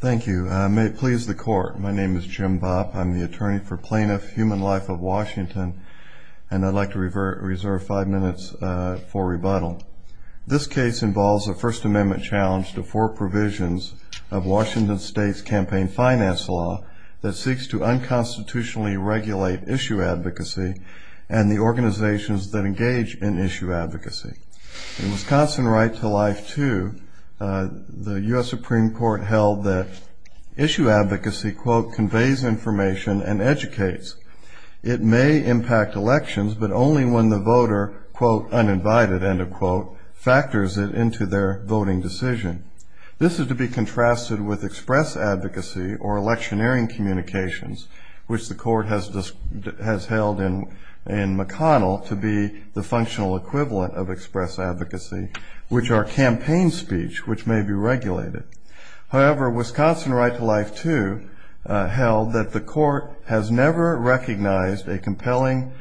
Thank you. May it please the Court, my name is Jim Bopp. I'm the attorney for Plaintiff Human Life of Washington, and I'd like to reserve five minutes for rebuttal. This case involves a First Amendment challenge to four provisions of Washington State's campaign finance law that seeks to unconstitutionally regulate issue advocacy and the organizations that engage in issue advocacy. In Wisconsin Right to Life 2, the U.S. Supreme Court held that issue advocacy, quote, conveys information and educates. It may impact elections, but only when the voter, quote, uninvited, end of quote, factors it into their voting decision. This is to be contrasted with express advocacy or electioneering communications, which the Court has held in McConnell to be the functional equivalent of express advocacy, which are campaign speech which may be regulated. However, Wisconsin Right to Life 2 held that the Court has never recognized a compelling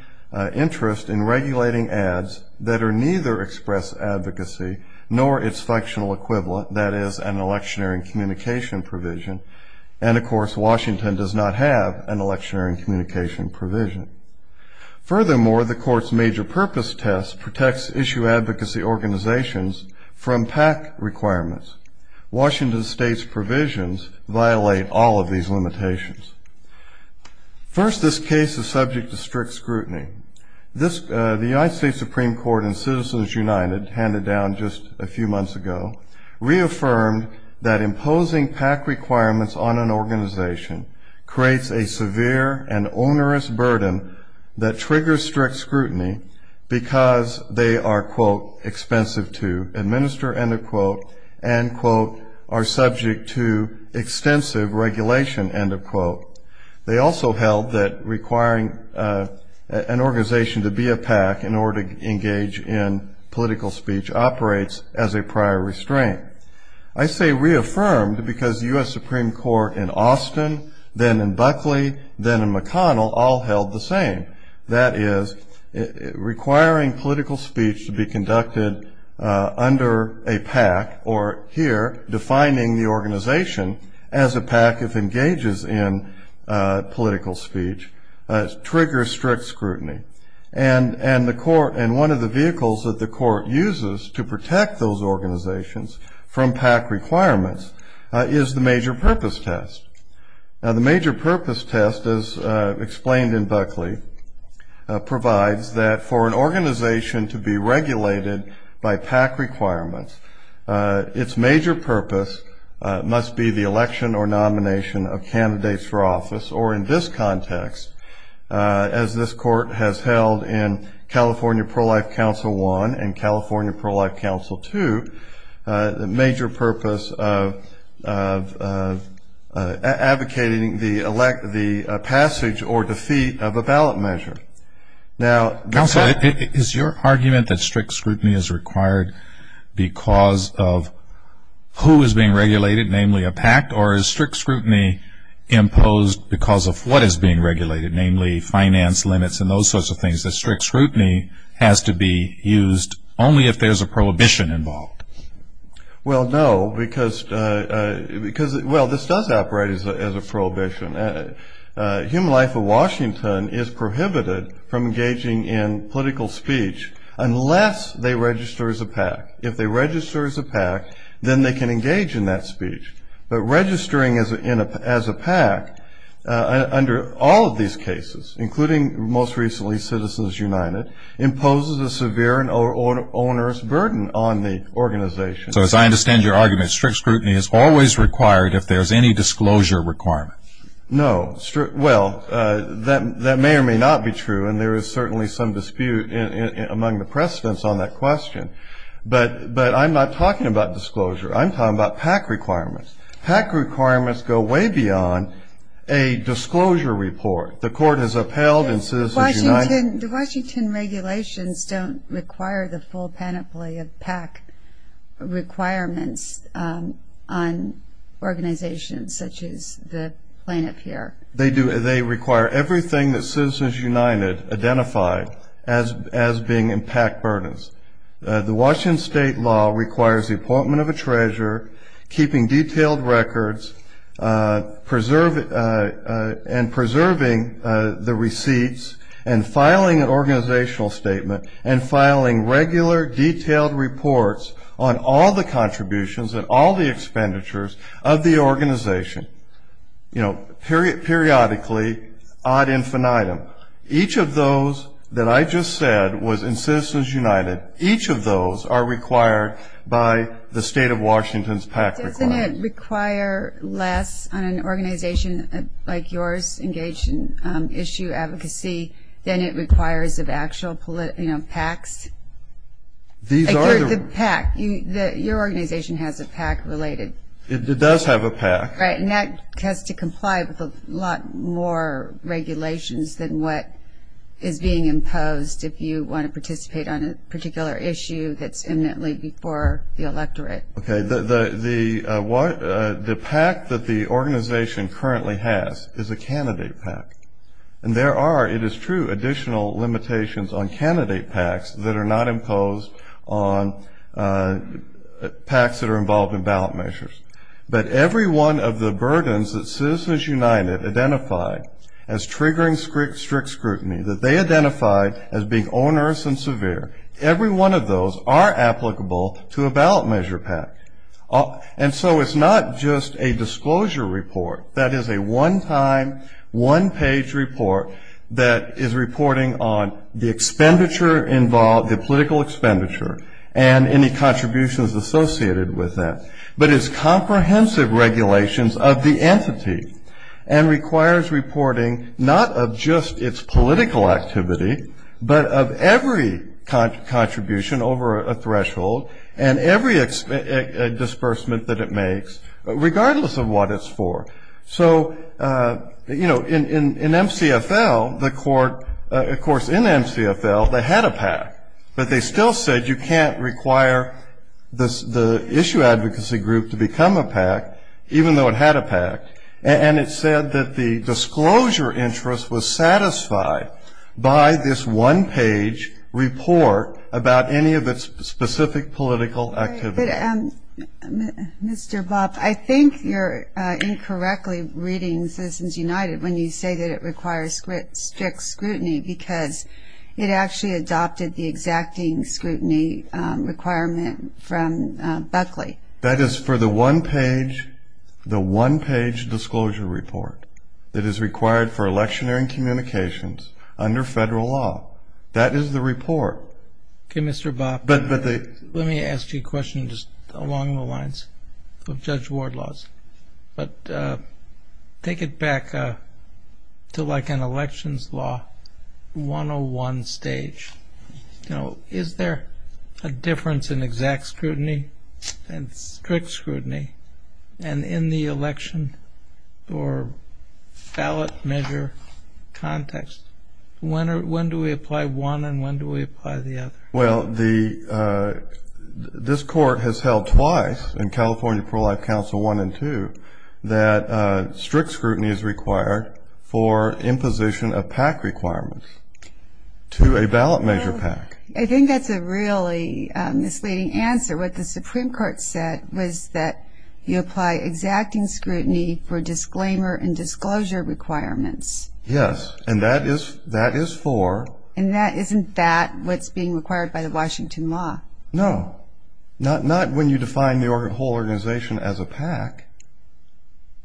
interest in regulating ads that are neither express advocacy nor its functional equivalent, that is, an electioneering communication provision. And, of course, Washington does not have an electioneering communication provision. Furthermore, the Court's major purpose test protects issue advocacy organizations from PAC requirements. Washington State's provisions violate all of these limitations. First, this case is subject to strict scrutiny. The United States Supreme Court in Citizens United handed down just a few months ago reaffirmed that imposing PAC requirements on an organization creates a severe and onerous burden that triggers strict scrutiny because they are, quote, expensive to administer, end of quote, and, quote, are subject to extensive regulation, end of quote. They also held that requiring an organization to be a PAC in order to engage in political speech operates as a prior restraint. I say reaffirmed because the U.S. Supreme Court in Austin, then in Buckley, then in McConnell all held the same. That is, requiring political speech to be conducted under a PAC or, here, defining the organization as a PAC if engages in political speech triggers strict scrutiny. And one of the vehicles that the Court uses to protect those organizations from PAC requirements is the major purpose test. Now, the major purpose test, as explained in Buckley, provides that for an organization to be regulated by PAC requirements, its major purpose must be the election or nomination of candidates for office. Or, in this context, as this Court has held in California Pro-Life Council 1 and California Pro-Life Council 2, the major purpose of advocating for candidates for office is to ensure that the organization is regulated by PAC requirements. And, therefore, advocating the passage or defeat of a ballot measure. Now, counsel, is your argument that strict scrutiny is required because of who is being regulated, namely a PAC, or is strict scrutiny imposed because of what is being regulated, namely finance limits and those sorts of things, that strict scrutiny has to be used only if there's a prohibition involved? Well, no, because, well, this does operate as a prohibition. Human Life of Washington is prohibited from engaging in political speech unless they register as a PAC. If they register as a PAC, then they can engage in that speech. But registering as a PAC under all of these cases, including most recently Citizens United, imposes a severe and onerous burden on the organization. So, as I understand your argument, strict scrutiny is always required if there's any disclosure requirement. No. Well, that may or may not be true, and there is certainly some dispute among the precedents on that question. But I'm not talking about disclosure. I'm talking about PAC requirements. PAC requirements go way beyond a disclosure report. The Washington regulations don't require the full panoply of PAC requirements on organizations such as the plaintiff here. They do. They require everything that Citizens United identified as being in PAC burdens. The Washington state law requires the appointment of a treasurer, keeping detailed records, and preserving the receipts, and filing an organizational statement, and filing regular detailed reports on all the contributions and all the expenditures of the organization. Periodically, ad infinitum, each of those that I just said was in Citizens United. Each of those are required by the state of Washington's PAC requirements. Doesn't it require less on an organization like yours engaged in issue advocacy than it requires of actual PACs? Your organization has a PAC related. It does have a PAC. Right, and that has to comply with a lot more regulations than what is being imposed if you want to participate on a particular issue that's imminently before the electorate. Okay, the PAC that the organization currently has is a candidate PAC. And there are, it is true, additional limitations on candidate PACs that are not imposed on PACs that are involved in ballot measures. But every one of the burdens that Citizens United identified as triggering strict scrutiny, that they identified as being onerous and severe, every one of those are applicable to a ballot measure PAC. And so it's not just a disclosure report, that is a one-time, one-page report that is reporting on the expenditure involved, the political expenditure, and any contributions associated with that. But it's comprehensive regulations of the entity, and requires reporting not of just its political activity, but of every contribution over a threshold and every disbursement that it makes, regardless of what it's for. So, you know, in MCFL, the court, of course, in MCFL, they had a PAC. But they still said you can't require the issue advocacy group to become a PAC, even though it had a PAC. And it said that the disclosure interest was satisfied by this one-page report about any of its specific political activity. But, Mr. Bopp, I think you're incorrectly reading Citizens United when you say that it requires strict scrutiny, because it actually adopted the exacting scrutiny requirement from Buckley. That is for the one-page, the one-page disclosure report that is required for electioneering communications under federal law. That is the report. Okay, Mr. Bopp, let me ask you a question just along the lines of Judge Ward laws. But take it back to like an elections law 101 stage. You know, is there a difference in exact scrutiny and strict scrutiny? And in the election or ballot measure context, when do we apply one and when do we apply the other? Well, this court has held twice in California Pro-Life Council 1 and 2 that strict scrutiny is required for imposition of PAC requirements to a ballot measure PAC. I think that's a really misleading answer. What the Supreme Court said was that you apply exacting scrutiny for disclaimer and disclosure requirements. Yes, and that is for... And isn't that what's being required by the Washington law? No, not when you define the whole organization as a PAC.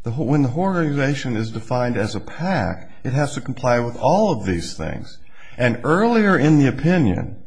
When the whole organization is defined as a PAC, it has to comply with all of these things. And earlier in the opinion,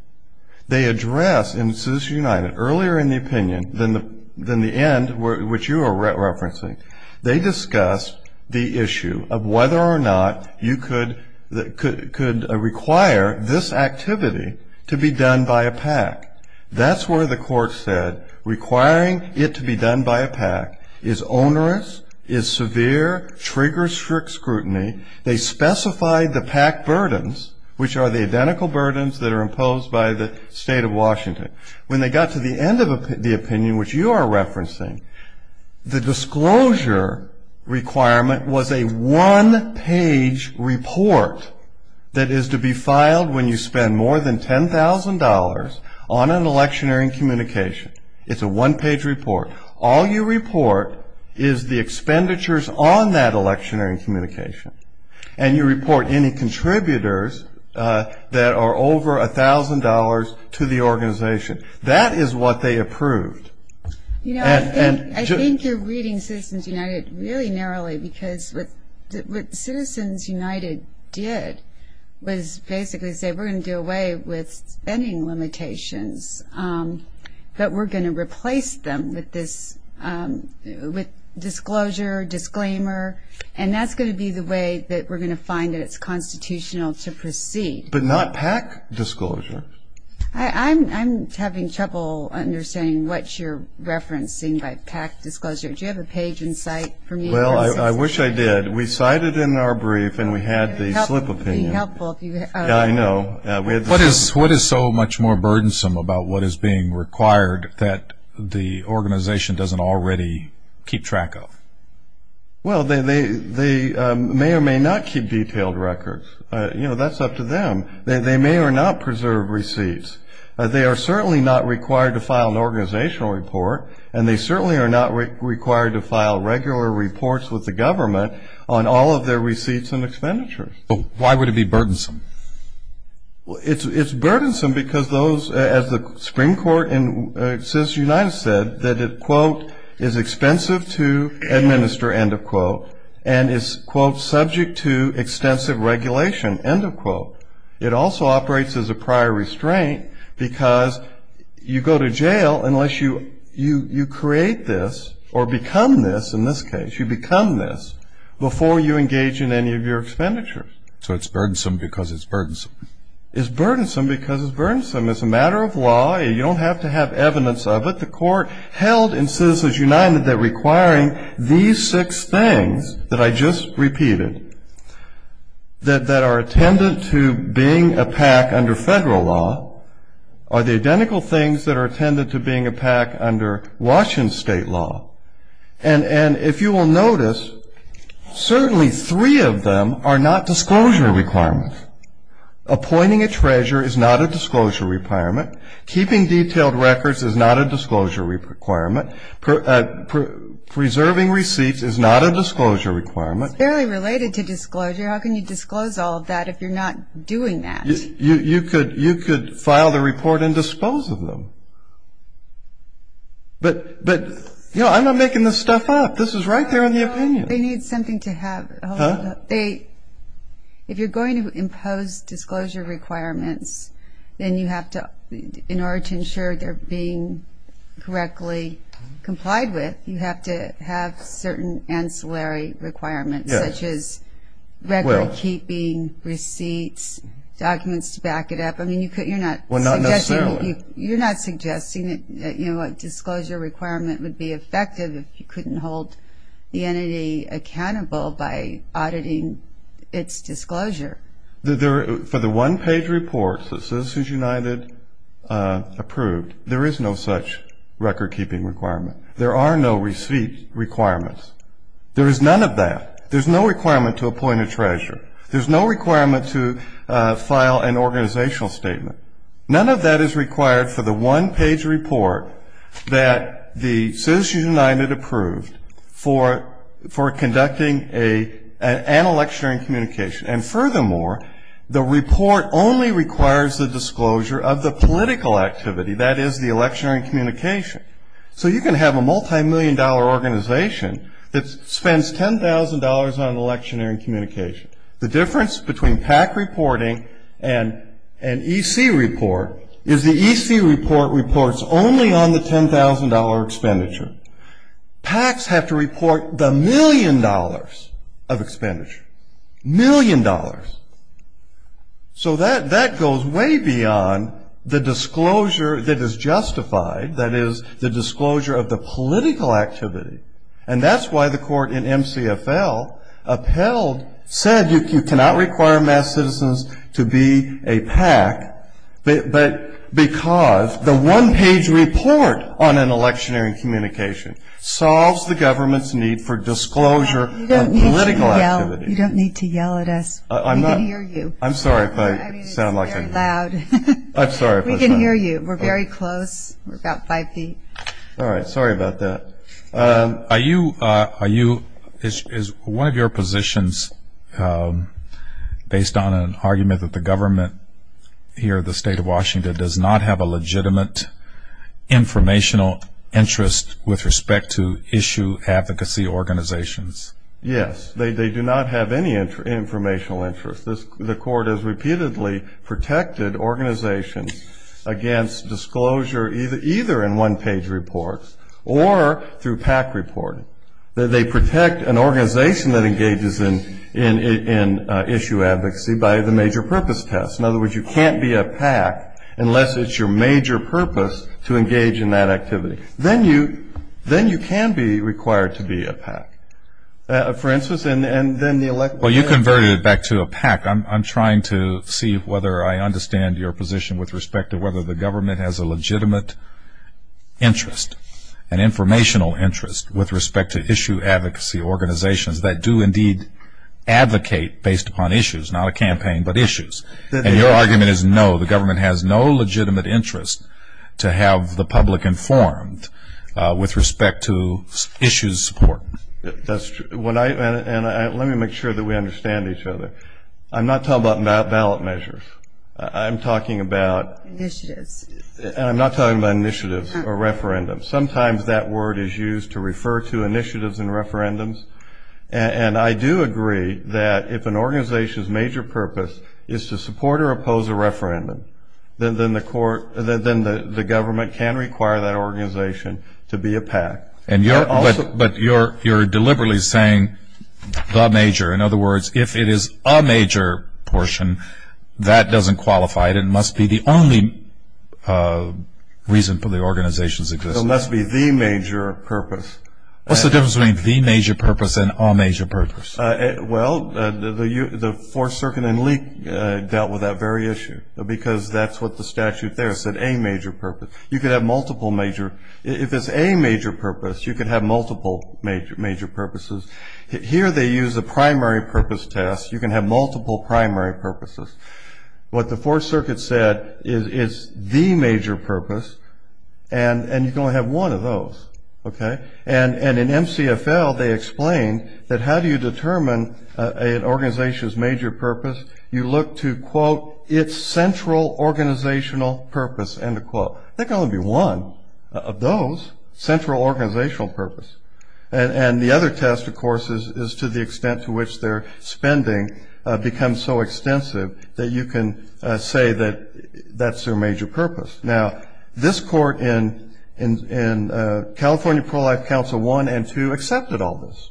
they address in Citizens United, earlier in the opinion than the end which you are referencing, they discuss the issue of whether or not you could require this activity to be done by a PAC. That's where the court said requiring it to be done by a PAC is onerous, is severe, triggers strict scrutiny. They specified the PAC burdens, which are the identical burdens that are imposed by the state of Washington. When they got to the end of the opinion, which you are referencing, the disclosure requirement was a one-page report that is to be filed when you spend more than $10,000 on an electionary and communication. It's a one-page report. All you report is the expenditures on that electionary and communication, and you report any contributors that are over $1,000 to the organization. That is what they approved. I think you're reading Citizens United really narrowly because what Citizens United did was basically say we're going to do away with spending limitations, but we're going to replace them with disclosure, disclaimer, and that's going to be the way that we're going to find that it's constitutional to proceed. But not PAC disclosure. I'm having trouble understanding what you're referencing by PAC disclosure. Do you have a page in sight for me? Well, I wish I did. We cited in our brief and we had the slip opinion. What is so much more burdensome about what is being required that the organization doesn't already keep track of? Well, they may or may not keep detailed records. That's up to them. They may or may not preserve receipts. They are certainly not required to file an organizational report, and they certainly are not required to file regular reports with the government on all of their receipts and expenditures. Why would it be burdensome? It's burdensome because those, as the Supreme Court in Citizens United said, that it, quote, is expensive to administer, end of quote, and is, quote, subject to extensive regulation, end of quote. It also operates as a prior restraint because you go to jail unless you create this or become this, in this case. You become this before you engage in any of your expenditures. So it's burdensome because it's burdensome. It's burdensome because it's burdensome. It's a matter of law. You don't have to have evidence of it. The court held in Citizens United that requiring these six things that I just repeated that are attendant to being a PAC under federal law are the identical things that are attendant to being a PAC under Washington state law. And if you will notice, certainly three of them are not disclosure requirements. Appointing a treasurer is not a disclosure requirement. Keeping detailed records is not a disclosure requirement. Preserving receipts is not a disclosure requirement. It's fairly related to disclosure. How can you disclose all of that if you're not doing that? You could file the report and dispose of them. But, you know, I'm not making this stuff up. This is right there in the opinion. They need something to have. If you're going to impose disclosure requirements, then you have to, in order to ensure they're being correctly complied with, you have to have certain ancillary requirements, such as record-keeping, receipts, documents to back it up. I mean, you're not suggesting that a disclosure requirement would be effective if you couldn't hold the entity accountable by auditing its disclosure. For the one-page report that Citizens United approved, there is no such record-keeping requirement. There are no receipt requirements. There is none of that. There's no requirement to appoint a treasurer. There's no requirement to file an organizational statement. None of that is required for the one-page report that the Citizens United approved for conducting an electionary communication. And furthermore, the report only requires the disclosure of the political activity, that is, the electionary communication. So you can have a multimillion-dollar organization that spends $10,000 on electionary communication. The difference between PAC reporting and an EC report is the EC report reports only on the $10,000 expenditure. PACs have to report the million dollars of expenditure, million dollars. So that goes way beyond the disclosure that is justified, that is, the disclosure of the political activity. And that's why the court in MCFL upheld, said you cannot require mass citizens to be a PAC because the one-page report on an electionary communication solves the government's need for disclosure on political activity. You don't need to yell at us. We can hear you. I'm sorry if I sound like I'm. I mean, it's very loud. I'm sorry if I sound. We can hear you. We're very close. We're about five feet. All right. Sorry about that. Is one of your positions based on an argument that the government here at the State of Washington does not have a legitimate informational interest with respect to issue advocacy organizations? Yes. They do not have any informational interest. The court has repeatedly protected organizations against disclosure either in one-page reports or through PAC reporting. They protect an organization that engages in issue advocacy by the major purpose test. In other words, you can't be a PAC unless it's your major purpose to engage in that activity. For instance, and then the elect. Well, you converted it back to a PAC. I'm trying to see whether I understand your position with respect to whether the government has a legitimate interest, an informational interest with respect to issue advocacy organizations that do indeed advocate based upon issues, not a campaign, but issues. And your argument is no, the government has no legitimate interest to have the public informed with respect to issues support. That's true. And let me make sure that we understand each other. I'm not talking about ballot measures. I'm talking about initiatives. And I'm not talking about initiatives or referendums. Sometimes that word is used to refer to initiatives and referendums. And I do agree that if an organization's major purpose is to support or oppose a referendum, then the government can require that organization to be a PAC. But you're deliberately saying the major. In other words, if it is a major portion, that doesn't qualify. It must be the only reason for the organization's existence. It must be the major purpose. What's the difference between the major purpose and a major purpose? Well, the Fourth Circuit and LEAP dealt with that very issue, because that's what the statute there said, a major purpose. You could have multiple major. If it's a major purpose, you could have multiple major purposes. Here they use a primary purpose test. You can have multiple primary purposes. What the Fourth Circuit said is the major purpose, and you can only have one of those. And in MCFL, they explain that how do you determine an organization's major purpose? You look to, quote, its central organizational purpose, end of quote. There can only be one of those, central organizational purpose. And the other test, of course, is to the extent to which their spending becomes so extensive that you can say that that's their major purpose. Now, this court in California Pro-Life Council 1 and 2 accepted all this.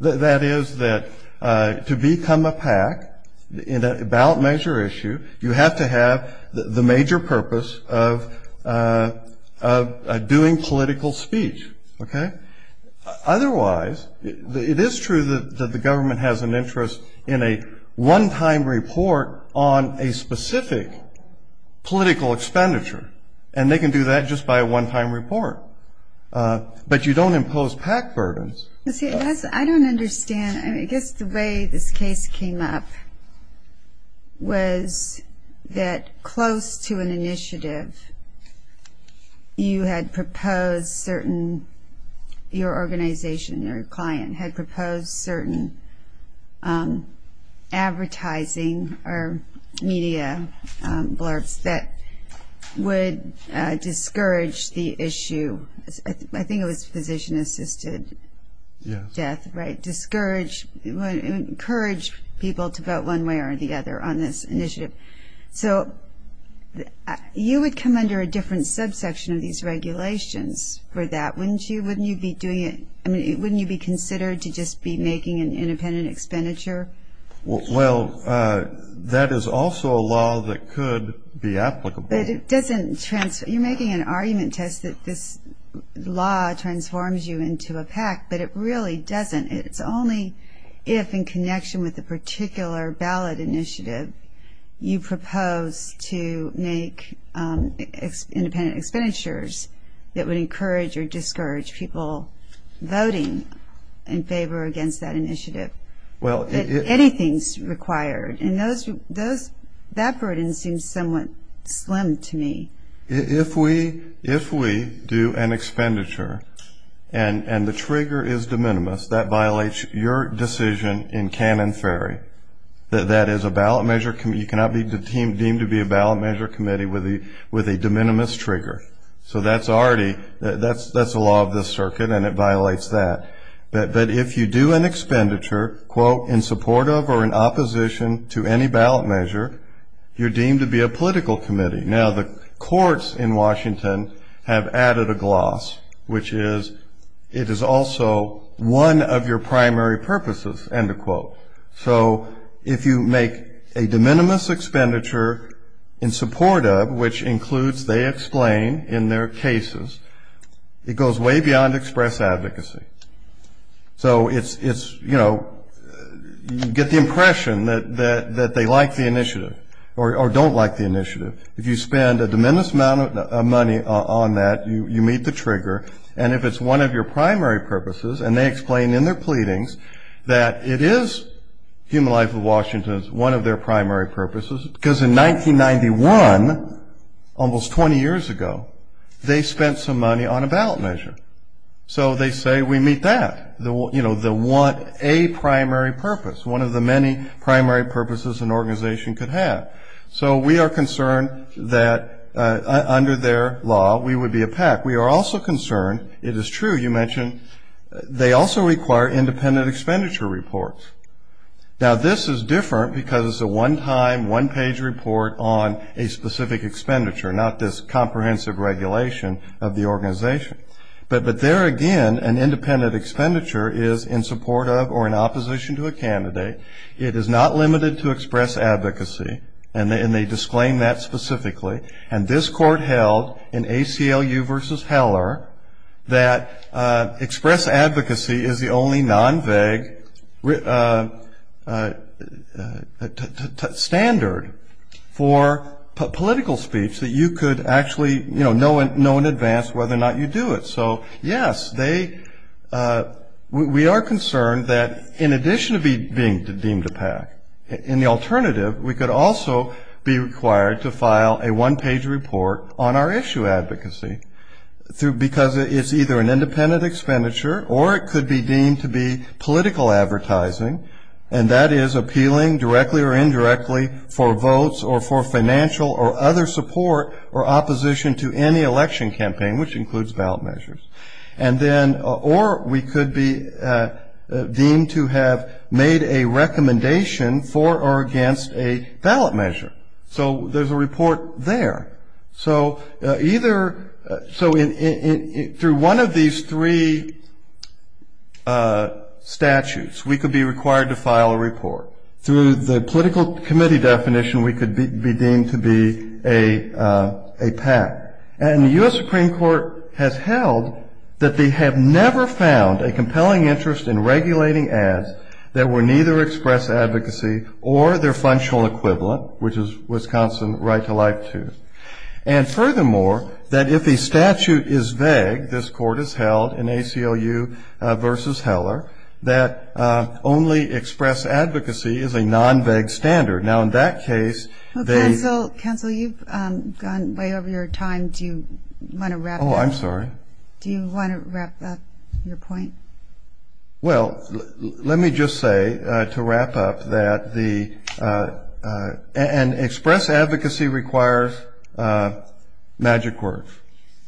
That is that to become a PAC in a ballot measure issue, you have to have the major purpose of doing political speech, okay? Otherwise, it is true that the government has an interest in a one-time report on a specific political expenditure, and they can do that just by a one-time report. But you don't impose PAC burdens. I don't understand. I guess the way this case came up was that close to an initiative, you had proposed certain – your organization, your client, had proposed certain advertising or media blurbs that would discourage the issue. I think it was physician-assisted death, right? Yes. Encourage people to vote one way or the other on this initiative. So you would come under a different subsection of these regulations for that, wouldn't you? I mean, wouldn't you be considered to just be making an independent expenditure? Well, that is also a law that could be applicable. But it doesn't – you're making an argument, Tess, that this law transforms you into a PAC, but it really doesn't. It's only if, in connection with a particular ballot initiative, you propose to make independent expenditures that would encourage or discourage people voting in favor against that initiative. Anything is required, and that burden seems somewhat slim to me. If we do an expenditure and the trigger is de minimis, that violates your decision in Canon Ferry, that that is a ballot measure – you cannot be deemed to be a ballot measure committee with a de minimis trigger. So that's already – that's the law of this circuit, and it violates that. But if you do an expenditure, quote, in support of or in opposition to any ballot measure, you're deemed to be a political committee. Now, the courts in Washington have added a gloss, which is it is also one of your primary purposes, end of quote. So if you make a de minimis expenditure in support of, which includes they explain in their cases, it goes way beyond express advocacy. So it's, you know, you get the impression that they like the initiative or don't like the initiative. If you spend a de minimis amount of money on that, you meet the trigger. And if it's one of your primary purposes, and they explain in their pleadings that it is Human Life of Washington, it's one of their primary purposes, because in 1991, almost 20 years ago, they spent some money on a ballot measure. So they say we meet that, you know, a primary purpose, one of the many primary purposes an organization could have. So we are concerned that under their law, we would be a PAC. We are also concerned, it is true you mentioned, they also require independent expenditure reports. Now, this is different because it's a one-time, one-page report on a specific expenditure, not this comprehensive regulation of the organization. But there again, an independent expenditure is in support of or in opposition to a candidate. It is not limited to express advocacy, and they disclaim that specifically. And this court held in ACLU v. Heller that express advocacy is the only non-veg standard for political speech that you could actually, you know, know in advance whether or not you do it. So, yes, we are concerned that in addition to being deemed a PAC, in the alternative, we could also be required to file a one-page report on our issue advocacy, because it's either an independent expenditure or it could be deemed to be political advertising, and that is appealing directly or indirectly for votes or for financial or other support or opposition to any election campaign, which includes ballot measures. And then, or we could be deemed to have made a recommendation for or against a ballot measure. So there's a report there. So either, so through one of these three statutes, we could be required to file a report. Through the political committee definition, we could be deemed to be a PAC. And the U.S. Supreme Court has held that they have never found a compelling interest in regulating ads that would neither express advocacy or their functional equivalent, which is Wisconsin Right to Life II. And furthermore, that if a statute is vague, this court has held in ACLU v. Heller, that only express advocacy is a non-vague standard. Now, in that case, they- Counsel, you've gone way over your time. Do you want to wrap up? Oh, I'm sorry. Do you want to wrap up your point? Well, let me just say, to wrap up, that the, and express advocacy requires magic words,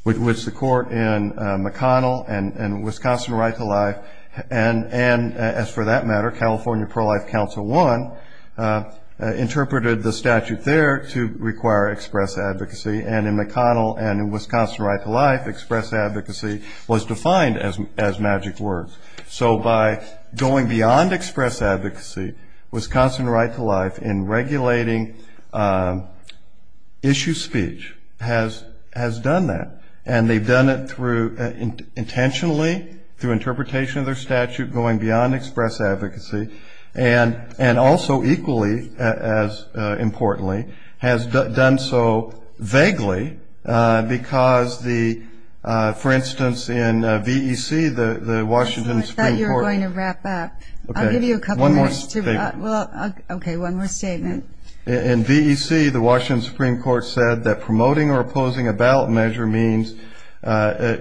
which the court in McConnell and Wisconsin Right to Life, and as for that matter, California Pro-Life Council I, interpreted the statute there to require express advocacy. And in McConnell and Wisconsin Right to Life, express advocacy was defined as magic words. So by going beyond express advocacy, Wisconsin Right to Life, in regulating issue speech, has done that. And they've done it through, intentionally, through interpretation of their statute, going beyond express advocacy, and also equally as importantly, has done so vaguely because the, for instance, in VEC, the Washington Supreme Court- Counsel, I thought you were going to wrap up. Okay. I'll give you a couple minutes to- One more statement. Well, okay, one more statement. In VEC, the Washington Supreme Court said that promoting or opposing a ballot measure means a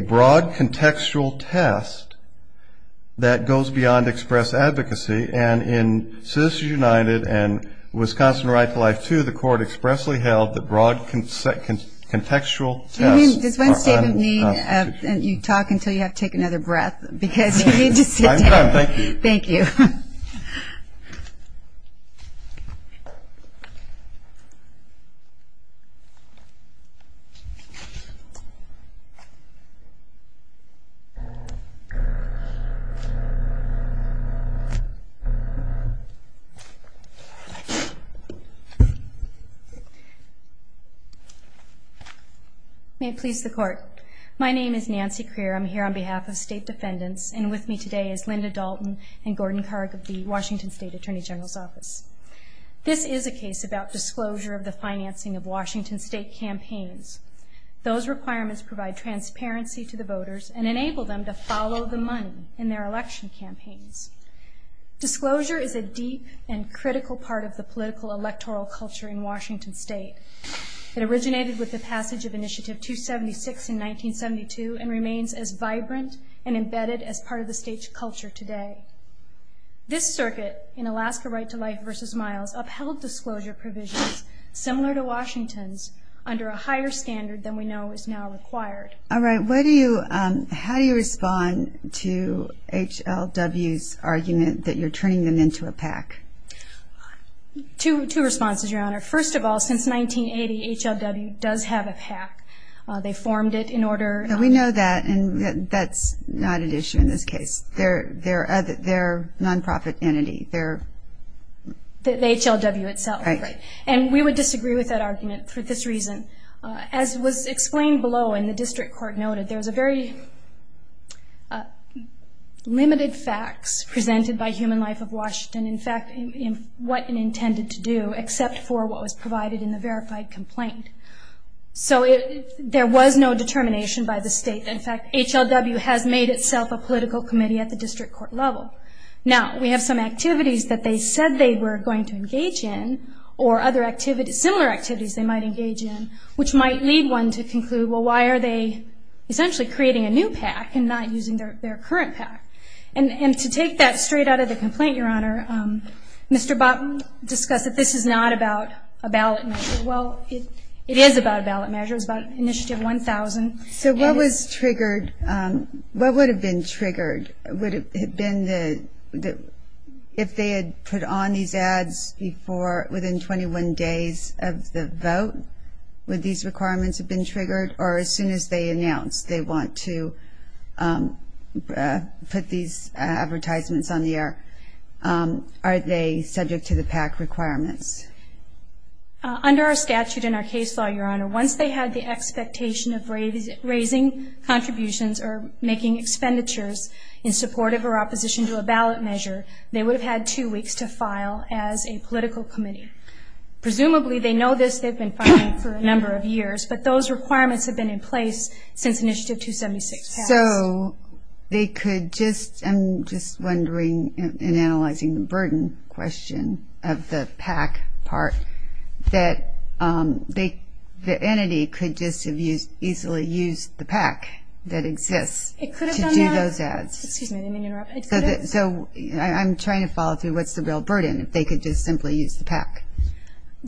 broad contextual test that goes beyond express advocacy. And in Citizens United and Wisconsin Right to Life II, the court expressly held that broad contextual tests- You talk until you have to take another breath because you need to sit down. I'm fine, thank you. Thank you. May it please the court. My name is Nancy Crear. I'm here on behalf of state defendants. And with me today is Linda Dalton and Gordon Karg of the Washington State Attorney General's Office. This is a case about disclosure of the financing of Washington State campaigns. Those requirements provide transparency to the voters and enable them to follow the money in their election campaigns. Disclosure is a deep and critical part of the political electoral culture in Washington State. It originated with the passage of Initiative 276 in 1972 and remains as vibrant and embedded as part of the state's culture today. This circuit in Alaska Right to Life v. Miles upheld disclosure provisions similar to Washington's under a higher standard than we know is now required. All right. How do you respond to HLW's argument that you're turning them into a PAC? Two responses, Your Honor. First of all, since 1980, HLW does have a PAC. They formed it in order to. We know that. And that's not an issue in this case. They're a non-profit entity. The HLW itself. Right. And we would disagree with that argument for this reason. As was explained below and the district court noted, there's a very limited facts presented by Human Life of Washington. In fact, what it intended to do except for what was provided in the verified complaint. So there was no determination by the state. In fact, HLW has made itself a political committee at the district court level. Now, we have some activities that they said they were going to engage in or other activities, similar activities they might engage in, which might lead one to conclude, well, why are they essentially creating a new PAC and not using their current PAC? And to take that straight out of the complaint, Your Honor, Mr. Botten discussed that this is not about a ballot measure. Well, it is about a ballot measure. It's about Initiative 1000. So what was triggered? What would have been triggered? Would it have been if they had put on these ads before, within 21 days of the vote, would these requirements have been triggered? Or as soon as they announce they want to put these advertisements on the air, are they subject to the PAC requirements? Under our statute and our case law, Your Honor, once they had the expectation of raising contributions or making expenditures in support of or opposition to a ballot measure, they would have had two weeks to file as a political committee. Presumably, they know this. They've been filing for a number of years. But those requirements have been in place since Initiative 276 passed. So they could just, I'm just wondering, in analyzing the burden question of the PAC part, that the entity could just have easily used the PAC that exists to do those ads. So I'm trying to follow through. What's the real burden if they could just simply use the PAC?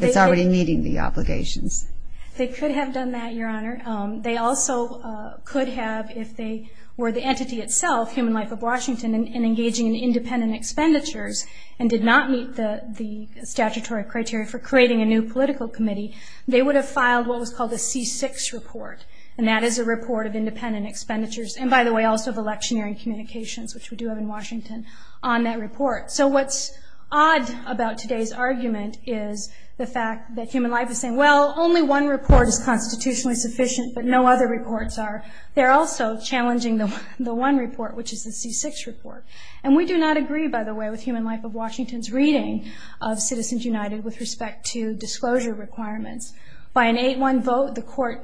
It's already meeting the obligations. They could have done that, Your Honor. They also could have, if they were the entity itself, Human Life of Washington, and engaging in independent expenditures and did not meet the statutory criteria for creating a new political committee, they would have filed what was called a C6 report, and that is a report of independent expenditures. And, by the way, also of electioneering communications, which we do have in Washington, on that report. So what's odd about today's argument is the fact that Human Life is saying, well, only one report is constitutionally sufficient, but no other reports are. They're also challenging the one report, which is the C6 report. And we do not agree, by the way, with Human Life of Washington's reading of Citizens United with respect to disclosure requirements. By an 8-1 vote, the court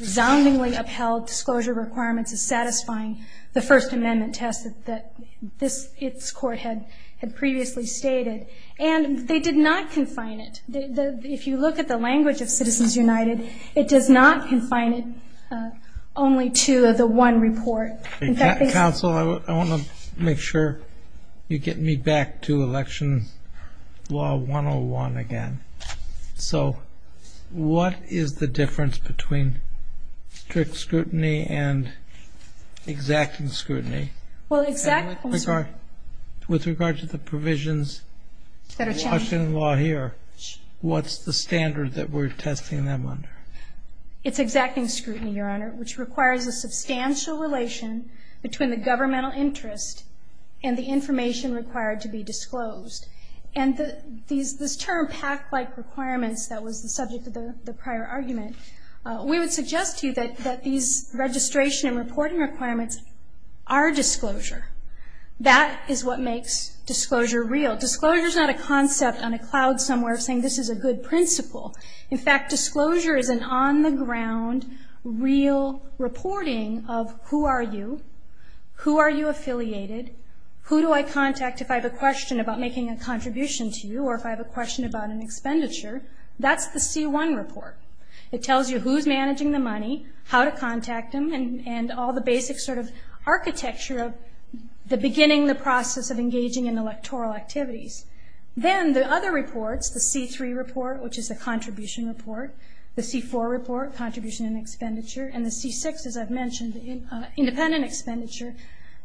resoundingly upheld disclosure requirements as satisfying the First Amendment test that its court had previously stated. And they did not confine it. If you look at the language of Citizens United, it does not confine it only to the one report. Counsel, I want to make sure you get me back to Election Law 101 again. So what is the difference between strict scrutiny and exacting scrutiny? With regard to the provisions of Washington law here, what's the standard that we're testing them under? It's exacting scrutiny, Your Honor, which requires a substantial relation between the governmental interest and the information required to be disclosed. And this term, pact-like requirements, that was the subject of the prior argument, we would suggest to you that these registration and reporting requirements are disclosure. That is what makes disclosure real. Disclosure is not a concept on a cloud somewhere saying this is a good principle. In fact, disclosure is an on-the-ground real reporting of who are you, who are you affiliated, who do I contact if I have a question about making a contribution to you, or if I have a question about an expenditure. That's the C-1 report. It tells you who's managing the money, how to contact them, and all the basic sort of architecture of the beginning, the process of engaging in electoral activities. Then the other reports, the C-3 report, which is a contribution report, the C-4 report, contribution and expenditure, and the C-6, as I've mentioned, independent expenditure,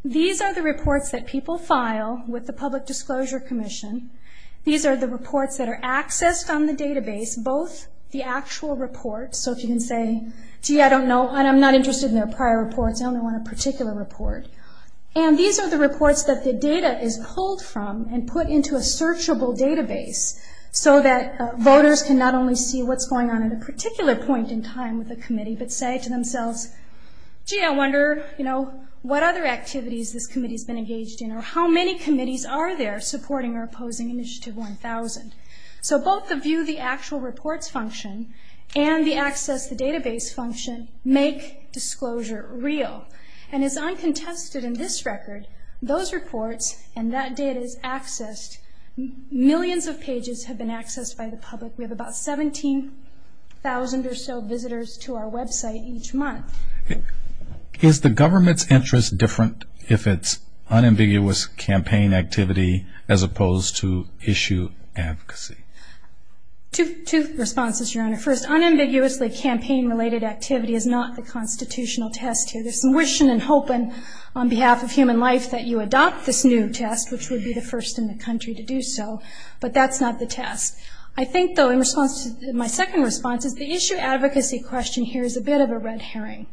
these are the reports that people file with the Public Disclosure Commission. These are the reports that are accessed on the database, both the actual reports, so if you can say, gee, I don't know, I'm not interested in their prior reports, I only want a particular report. And these are the reports that the data is pulled from and put into a searchable database so that voters can not only see what's going on at a particular point in time with the committee, but say to themselves, gee, I wonder, you know, what other activities this committee's been engaged in, or how many committees are there supporting or opposing Initiative 1000. So both the View the Actual Reports function and the Access the Database function make disclosure real. And it's uncontested in this record, those reports and that data is accessed. Millions of pages have been accessed by the public. We have about 17,000 or so visitors to our website each month. Is the government's interest different if it's unambiguous campaign activity as opposed to issue advocacy? Two responses, Your Honor. First, unambiguously campaign-related activity is not the constitutional test here. There's some wishing and hoping on behalf of human life that you adopt this new test, which would be the first in the country to do so, but that's not the test. I think, though, in response to my second response, is the issue advocacy question here is a bit of a red herring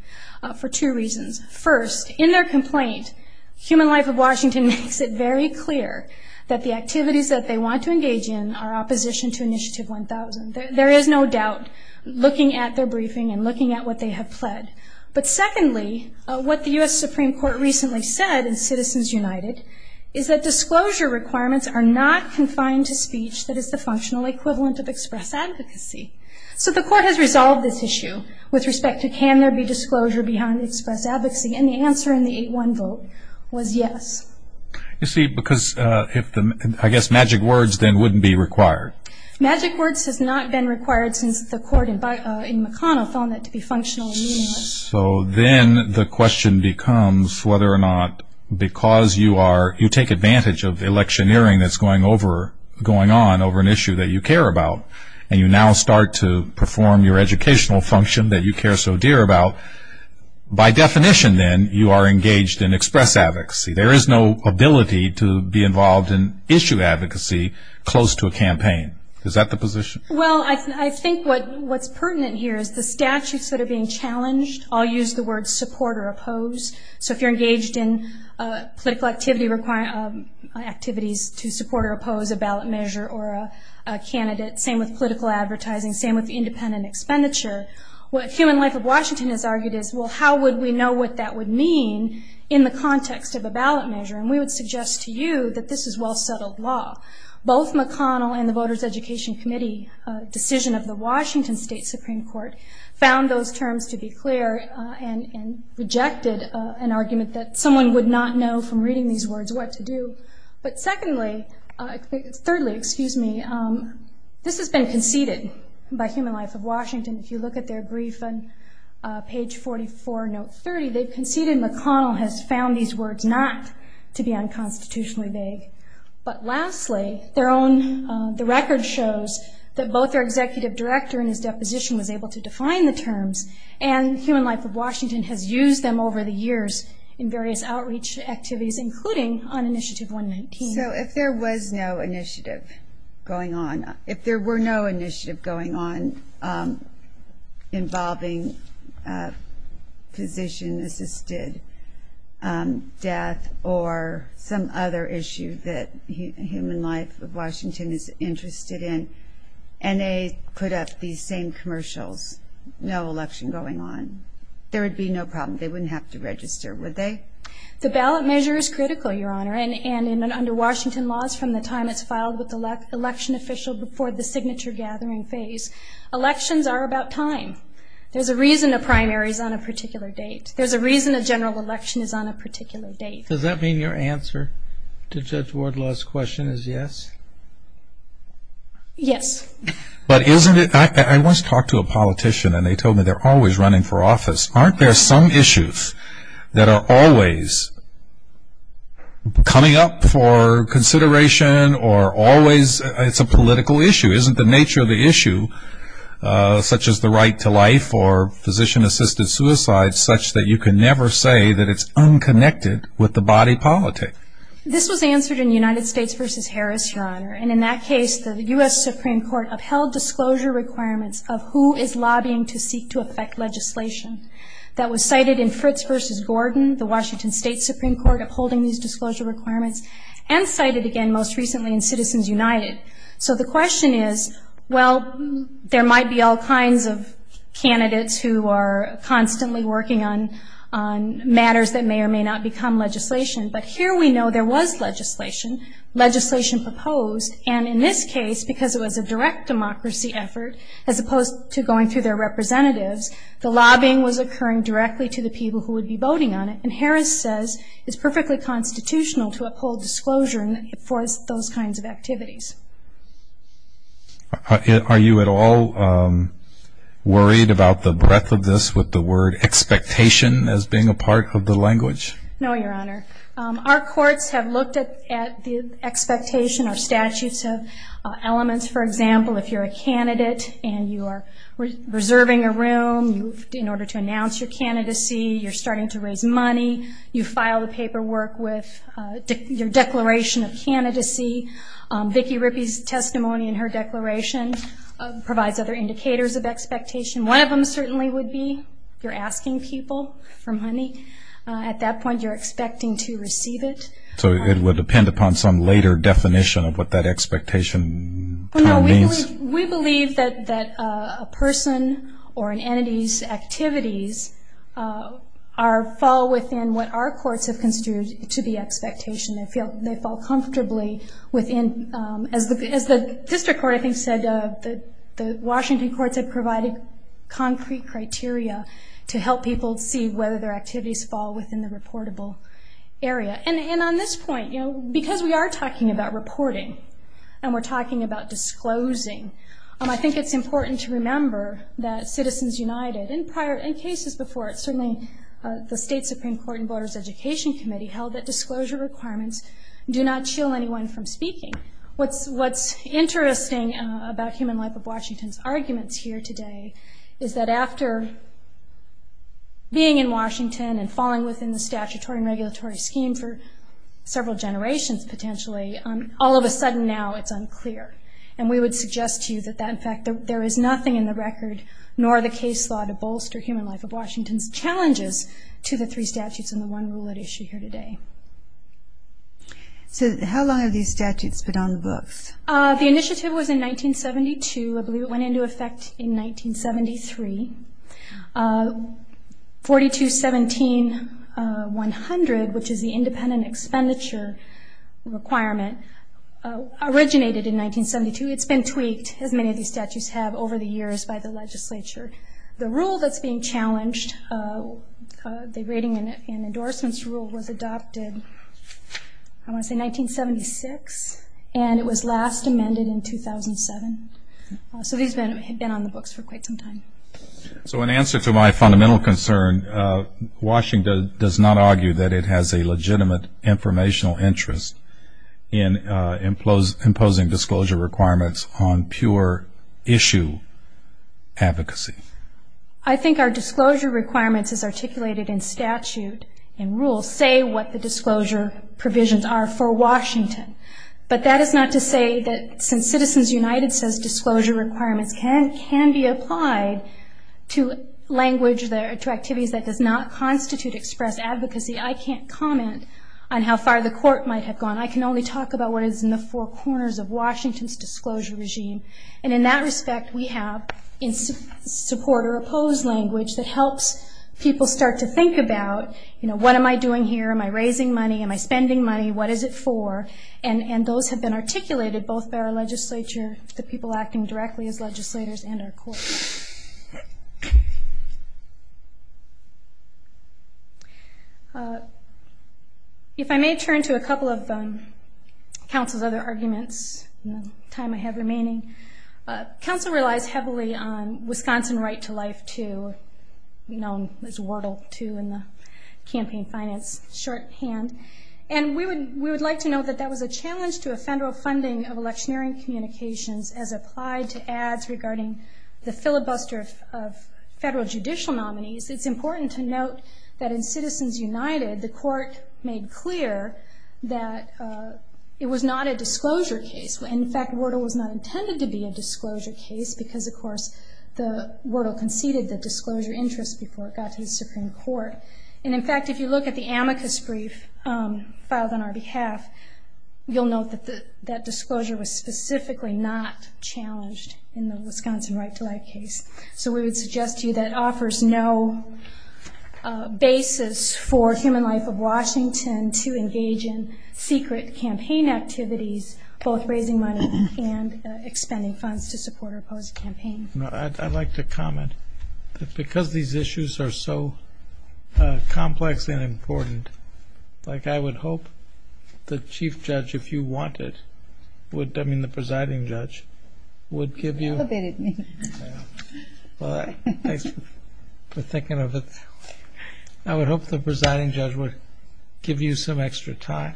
for two reasons. First, in their complaint, Human Life of Washington makes it very clear that the activities that they want to engage in are opposition to Initiative 1000. There is no doubt looking at their briefing and looking at what they have pled. But secondly, what the U.S. Supreme Court recently said in Citizens United is that disclosure requirements are not confined to speech that is the functional equivalent of express advocacy. So the court has resolved this issue with respect to can there be disclosure behind express advocacy, and the answer in the 8-1 vote was yes. You see, because I guess magic words then wouldn't be required. Magic words has not been required since the court in McConnell found that to be functional. So then the question becomes whether or not because you take advantage of the electioneering that's going on over an issue that you care about and you now start to perform your educational function that you care so dear about, by definition then you are engaged in express advocacy. There is no ability to be involved in issue advocacy close to a campaign. Is that the position? Well, I think what's pertinent here is the statutes that are being challenged all use the word support or oppose. So if you're engaged in political activities to support or oppose a ballot measure or a candidate, same with political advertising, same with independent expenditure, what Human Life of Washington has argued is, well, how would we know what that would mean in the context of a ballot measure? And we would suggest to you that this is well-settled law. Both McConnell and the Voters Education Committee decision of the Washington State Supreme Court found those terms to be clear and rejected an argument that someone would not know from reading these words what to do. But secondly, thirdly, excuse me, this has been conceded by Human Life of Washington. If you look at their brief on page 44, note 30, they've conceded McConnell has found these words not to be unconstitutionally vague. But lastly, the record shows that both their executive director and his deposition was able to define the terms, and Human Life of Washington has used them over the years in various outreach activities, including on Initiative 119. So if there was no initiative going on, if there were no initiative going on involving physician-assisted death or some other issue that Human Life of Washington is interested in, and they put up these same commercials, no election going on, there would be no problem. They wouldn't have to register, would they? The ballot measure is critical, Your Honor, and under Washington laws from the time it's filed with the election official before the signature gathering phase. Elections are about time. There's a reason a primary is on a particular date. There's a reason a general election is on a particular date. Does that mean your answer to Judge Wardlaw's question is yes? Yes. But isn't it, I once talked to a politician and they told me they're always running for office. Aren't there some issues that are always coming up for consideration or always it's a political issue? Isn't the nature of the issue, such as the right to life or physician-assisted suicide, such that you can never say that it's unconnected with the body politic? This was answered in United States v. Harris, Your Honor, and in that case the U.S. Supreme Court upheld disclosure requirements of who is lobbying to seek to affect legislation. That was cited in Fritz v. Gordon, the Washington State Supreme Court upholding these disclosure requirements, and cited again most recently in Citizens United. So the question is, well, there might be all kinds of candidates who are constantly working on matters that may or may not become legislation, but here we know there was legislation, legislation proposed, and in this case because it was a direct democracy effort as opposed to going through their representatives, the lobbying was occurring directly to the people who would be voting on it, and Harris says it's perfectly constitutional to uphold disclosure for those kinds of activities. Are you at all worried about the breadth of this with the word expectation as being a part of the language? No, Your Honor. Our courts have looked at the expectation or statutes of elements. For example, if you're a candidate and you are reserving a room in order to announce your candidacy, you're starting to raise money, you file the paperwork with your declaration of candidacy. Vicki Rippey's testimony in her declaration provides other indicators of expectation. One of them certainly would be you're asking people for money. At that point you're expecting to receive it. So it would depend upon some later definition of what that expectation term means? Well, no, we believe that a person or an entity's activities fall within what our courts have construed to be expectation. They fall comfortably within, as the district court I think said, the Washington courts have provided concrete criteria to help people see whether their activities fall within the reportable area. And on this point, because we are talking about reporting and we're talking about disclosing, I think it's important to remember that Citizens United, in cases before it, certainly the State Supreme Court and Voters Education Committee held that disclosure requirements do not chill anyone from speaking. What's interesting about Human Life of Washington's arguments here today is that after being in Washington and falling within the statutory and regulatory scheme for several generations potentially, all of a sudden now it's unclear. And we would suggest to you that in fact there is nothing in the record nor the case law to bolster Human Life of Washington's challenges to the three statutes and the one rule at issue here today. The initiative was in 1972. I believe it went into effect in 1973. 4217-100, which is the independent expenditure requirement, originated in 1972. It's been tweaked, as many of these statutes have, over the years by the legislature. The rule that's being challenged, the rating and endorsements rule, was adopted, I want to say 1976, and it was last amended in 2007. So these have been on the books for quite some time. So in answer to my fundamental concern, Washington does not argue that it has a legitimate informational interest in imposing disclosure requirements on pure issue advocacy. I think our disclosure requirements as articulated in statute and rules say what the disclosure provisions are for Washington. But that is not to say that since Citizens United says disclosure requirements can be applied to language, to activities that does not constitute express advocacy, I can't comment on how far the court might have gone. I can only talk about what is in the four corners of Washington's disclosure regime. And in that respect, we have in support or oppose language that helps people start to think about, you know, what am I doing here? Am I raising money? Am I spending money? What is it for? And those have been articulated both by our legislature, the people acting directly as legislators, and our courts. If I may turn to a couple of counsel's other arguments in the time I have remaining, counsel relies heavily on Wisconsin Right to Life II, known as WERDL II in the campaign finance shorthand. And we would like to note that that was a challenge to a federal funding of electioneering communications as applied to ads regarding the filibuster of federal judicial nominees. It's important to note that in Citizens United, the court made clear that it was not a disclosure case. In fact, WERDL was not intended to be a disclosure case because, of course, WERDL conceded the disclosure interest before it got to the Supreme Court. And in fact, if you look at the amicus brief filed on our behalf, you'll note that that disclosure was specifically not challenged in the Wisconsin Right to Life case. So we would suggest to you that it offers no basis for Human Life of Washington to engage in secret campaign activities, both raising money and expending funds to support or oppose a campaign. I'd like to comment that because these issues are so complex and important, like I would hope the chief judge, if you wanted, would, I mean the presiding judge, would give you... You elevated me. Well, thanks for thinking of it that way. I would hope the presiding judge would give you some extra time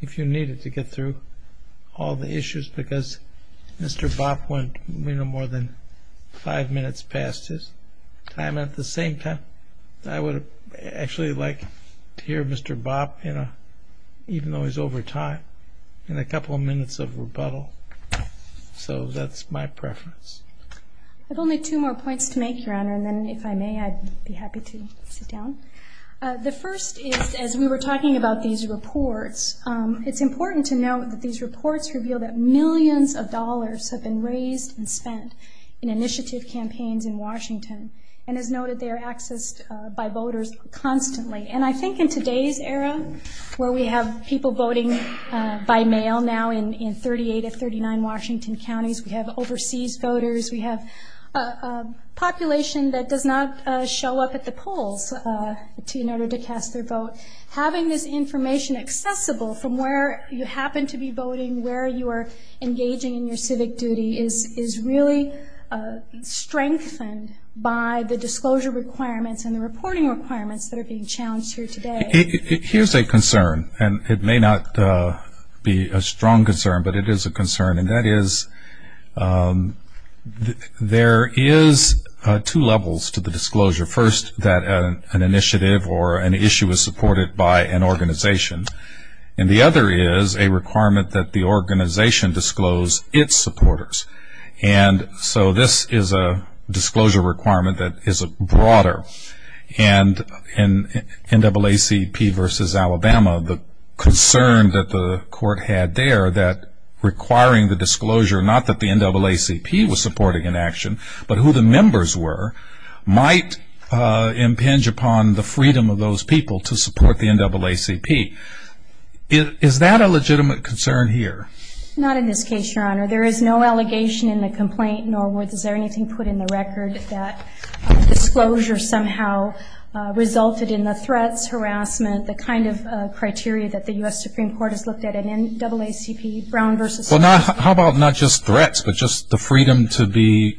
if you needed to get through all the issues because Mr. Bopp went more than five minutes past his time. At the same time, I would actually like to hear Mr. Bopp, even though he's over time, in a couple of minutes of rebuttal. So that's my preference. I have only two more points to make, Your Honor, and then if I may, I'd be happy to sit down. The first is, as we were talking about these reports, it's important to note that these reports reveal that millions of dollars have been raised and spent in initiative campaigns in Washington, and as noted, they are accessed by voters constantly. And I think in today's era, where we have people voting by mail now in 38 of 39 Washington counties, we have overseas voters, we have a population that does not show up at the polls in order to cast their vote. Having this information accessible from where you happen to be voting, where you are engaging in your civic duty, is really strengthened by the disclosure requirements and the reporting requirements that are being challenged here today. Here's a concern, and it may not be a strong concern, but it is a concern, and that is there is two levels to the disclosure. First, that an initiative or an issue is supported by an organization, and the other is a requirement that the organization disclose its supporters. And so this is a disclosure requirement that is broader, and in NAACP versus Alabama, the concern that the court had there that requiring the disclosure, not that the NAACP was supporting an action, but who the members were, might impinge upon the freedom of those people to support the NAACP. Is that a legitimate concern here? Not in this case, Your Honor. There is no allegation in the complaint, nor was there anything put in the record that disclosure somehow resulted in the threats, harassment, and the kind of criteria that the U.S. Supreme Court has looked at in NAACP, Brown versus Scalia. Well, how about not just threats, but just the freedom to be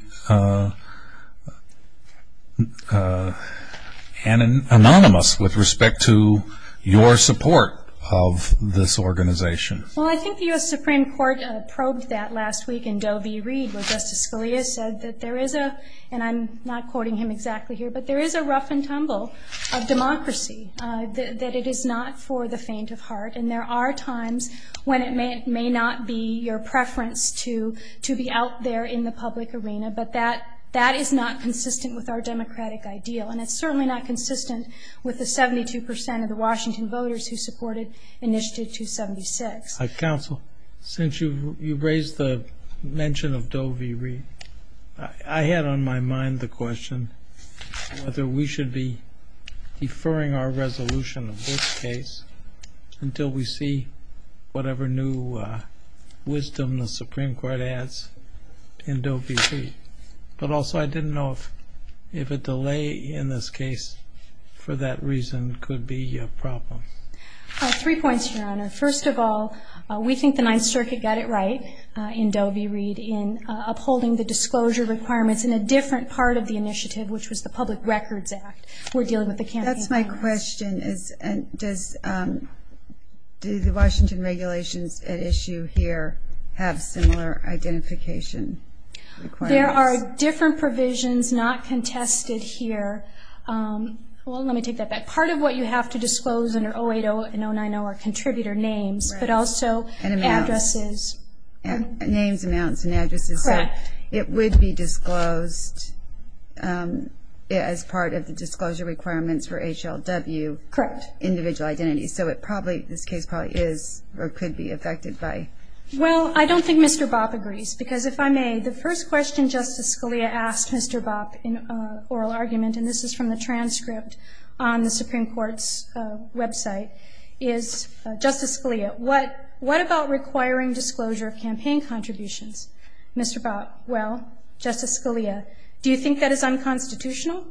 anonymous with respect to your support of this organization? Well, I think the U.S. Supreme Court probed that last week in Doe v. Reed, where Justice Scalia said that there is a, and I'm not quoting him exactly here, but there is a rough and tumble of democracy, that it is not for the faint of heart, and there are times when it may not be your preference to be out there in the public arena, but that is not consistent with our democratic ideal, and it's certainly not consistent with the 72 percent of the Washington voters who supported Initiative 276. Counsel, since you raised the mention of Doe v. Reed, I had on my mind the question whether we should be deferring our resolution of this case until we see whatever new wisdom the Supreme Court adds in Doe v. Reed, but also I didn't know if a delay in this case for that reason could be a problem. Three points, Your Honor. First of all, we think the Ninth Circuit got it right in Doe v. Reed in upholding the disclosure requirements in a different part of the initiative, which was the Public Records Act. We're dealing with the campaign finance. That's my question. Do the Washington regulations at issue here have similar identification requirements? There are different provisions not contested here. Well, let me take that back. Part of what you have to disclose under 08-0 and 09-0 are contributor names, but also addresses. Names, amounts, and addresses. Correct. It would be disclosed as part of the disclosure requirements for HLW. Correct. Individual identities. So this case probably is or could be affected by. Well, I don't think Mr. Bopp agrees, because if I may, the first question Justice Scalia asked Mr. Bopp in oral argument, and this is from the transcript on the Supreme Court's website, is, Justice Scalia, what about requiring disclosure of campaign contributions? Mr. Bopp, well, Justice Scalia, do you think that is unconstitutional?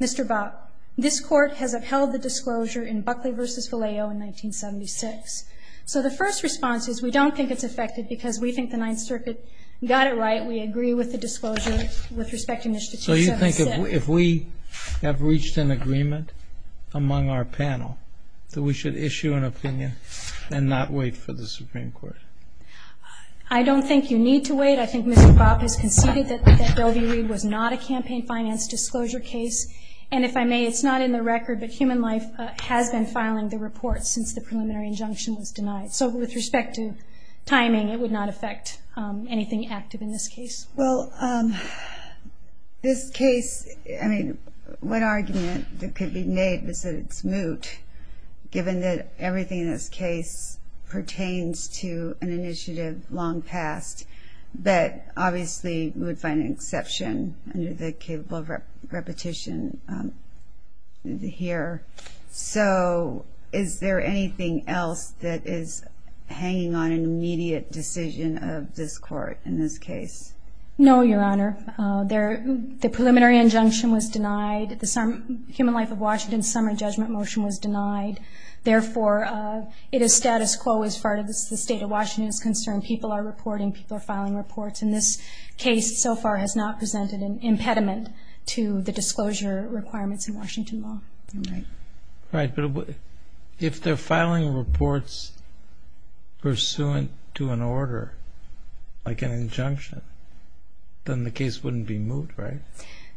Mr. Bopp, this Court has upheld the disclosure in Buckley v. Galeo in 1976. So the first response is we don't think it's affected, because we think the Ninth Circuit got it right. We agree with the disclosure with respect to initiative 76. I think if we have reached an agreement among our panel that we should issue an opinion and not wait for the Supreme Court. I don't think you need to wait. I think Mr. Bopp has conceded that Bellevue-Reed was not a campaign finance disclosure case. And if I may, it's not in the record, but Human Life has been filing the report since the preliminary injunction was denied. So with respect to timing, it would not affect anything active in this case. Well, this case, I mean, one argument that could be made is that it's moot, given that everything in this case pertains to an initiative long past, but obviously we would find an exception under the capable repetition here. So is there anything else that is hanging on an immediate decision of this court in this case? No, Your Honor. The preliminary injunction was denied. The Human Life of Washington summary judgment motion was denied. Therefore, it is status quo as far as the state of Washington is concerned. People are reporting. People are filing reports. And this case so far has not presented an impediment to the disclosure requirements in Washington law. Right. Right. But if they're filing reports pursuant to an order, like an injunction, then the case wouldn't be moot, right?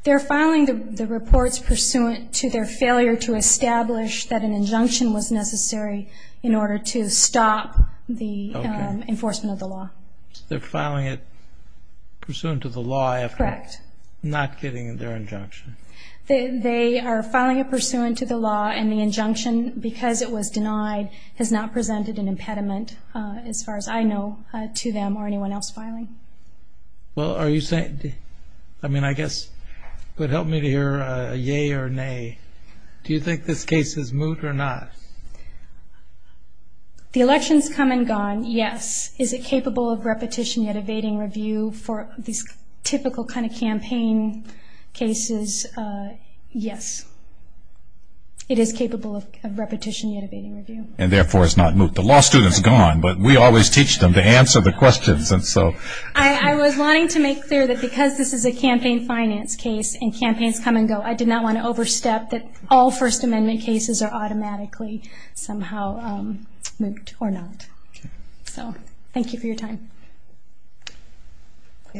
They're filing the reports pursuant to their failure to establish that an injunction was necessary in order to stop the enforcement of the law. So they're filing it pursuant to the law after not getting their injunction. They are filing it pursuant to the law, and the injunction, because it was denied, has not presented an impediment, as far as I know, to them or anyone else filing. Well, I mean, I guess it would help me to hear a yea or nay. Do you think this case is moot or not? The election's come and gone, yes. Is it capable of repetition yet evading review for these typical kind of campaign cases? Yes. It is capable of repetition yet evading review. And, therefore, it's not moot. The law student's gone, but we always teach them to answer the questions. I was wanting to make clear that because this is a campaign finance case and campaigns come and go, I did not want to overstep that all First Amendment cases are automatically somehow moot or not. So thank you for your time.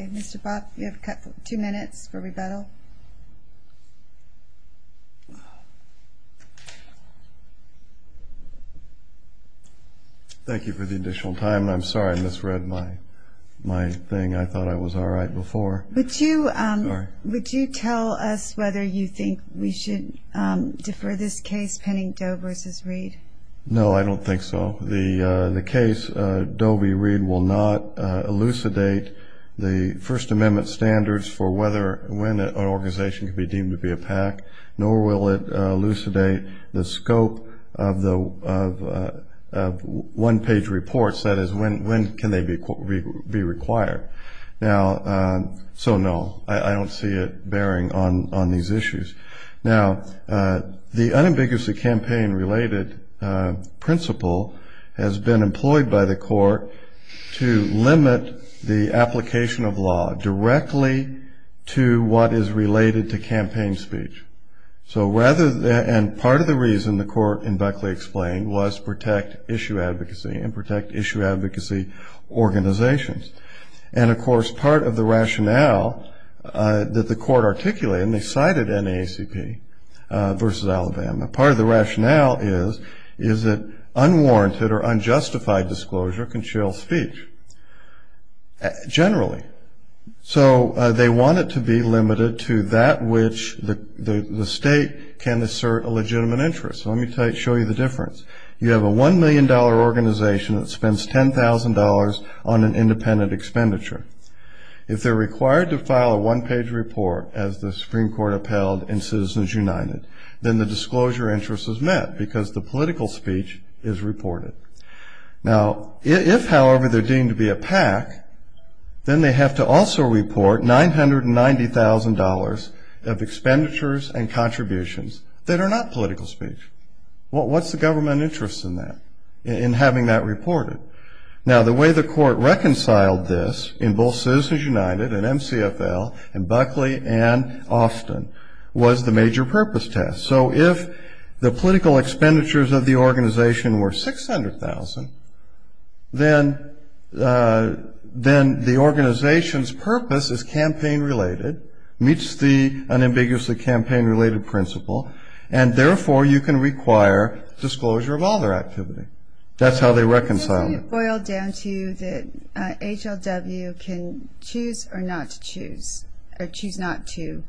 Mr. Bob, you have two minutes for rebuttal. Thank you for the additional time, and I'm sorry I misread my thing. I thought I was all right before. Would you tell us whether you think we should defer this case pending Doe v. Reed? No, I don't think so. The case Doe v. Reed will not elucidate the First Amendment standards for when an organization can be deemed to be a PAC, nor will it elucidate the scope of one-page reports, that is, when can they be required. So, no, I don't see it bearing on these issues. Now, the unambiguously campaign-related principle has been employed by the court to limit the application of law directly to what is related to campaign speech. And part of the reason, the court in Buckley explained, was protect issue advocacy and protect issue advocacy organizations. And, of course, part of the rationale that the court articulated, and they cited NAACP v. Alabama, part of the rationale is that unwarranted or unjustified disclosure can chill speech, generally. So they want it to be limited to that which the state can assert a legitimate interest. So let me show you the difference. You have a $1 million organization that spends $10,000 on an independent expenditure. If they're required to file a one-page report as the Supreme Court upheld in Citizens United, then the disclosure interest is met because the political speech is reported. Now, if, however, they're deemed to be a PAC, then they have to also report $990,000 of expenditures and contributions that are not political speech. What's the government interest in that, in having that reported? Now, the way the court reconciled this in both Citizens United and MCFL and Buckley and Austin was the major purpose test. So if the political expenditures of the organization were $600,000, then the organization's purpose is campaign-related, meets the unambiguously campaign-related principle, and therefore you can require disclosure of all their activity. That's how they reconciled it. It boiled down to that HLW can choose or not to choose, or choose not to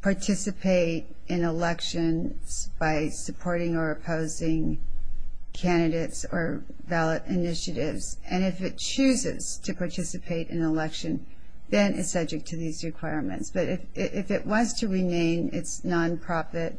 participate in elections by supporting or opposing candidates or ballot initiatives. And if it chooses to participate in an election, then it's subject to these requirements. But if it was to remain its nonprofit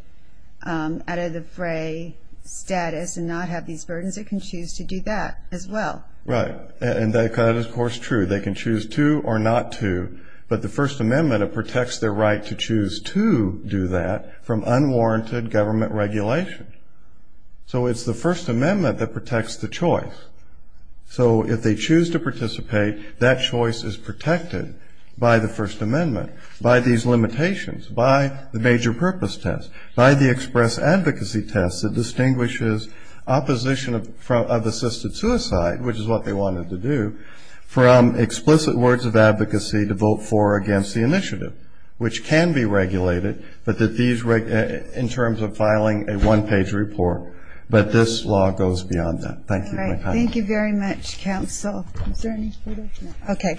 out of the fray status and not have these burdens, it can choose to do that as well. Right. And that is, of course, true. They can choose to or not to. But the First Amendment protects their right to choose to do that from unwarranted government regulation. So it's the First Amendment that protects the choice. So if they choose to participate, that choice is protected by the First Amendment, by these limitations, by the major purpose test, by the express advocacy test that distinguishes opposition of assisted suicide, which is what they wanted to do, from explicit words of advocacy to vote for or against the initiative, which can be regulated in terms of filing a one-page report. But this law goes beyond that. Thank you very much. Thank you very much, counsel. Is there any further? No. Okay.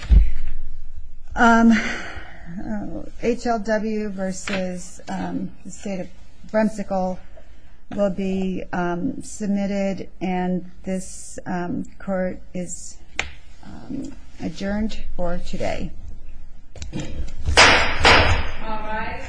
HLW versus the state of Bremsicle will be submitted, and this court is adjourned for today. All rise.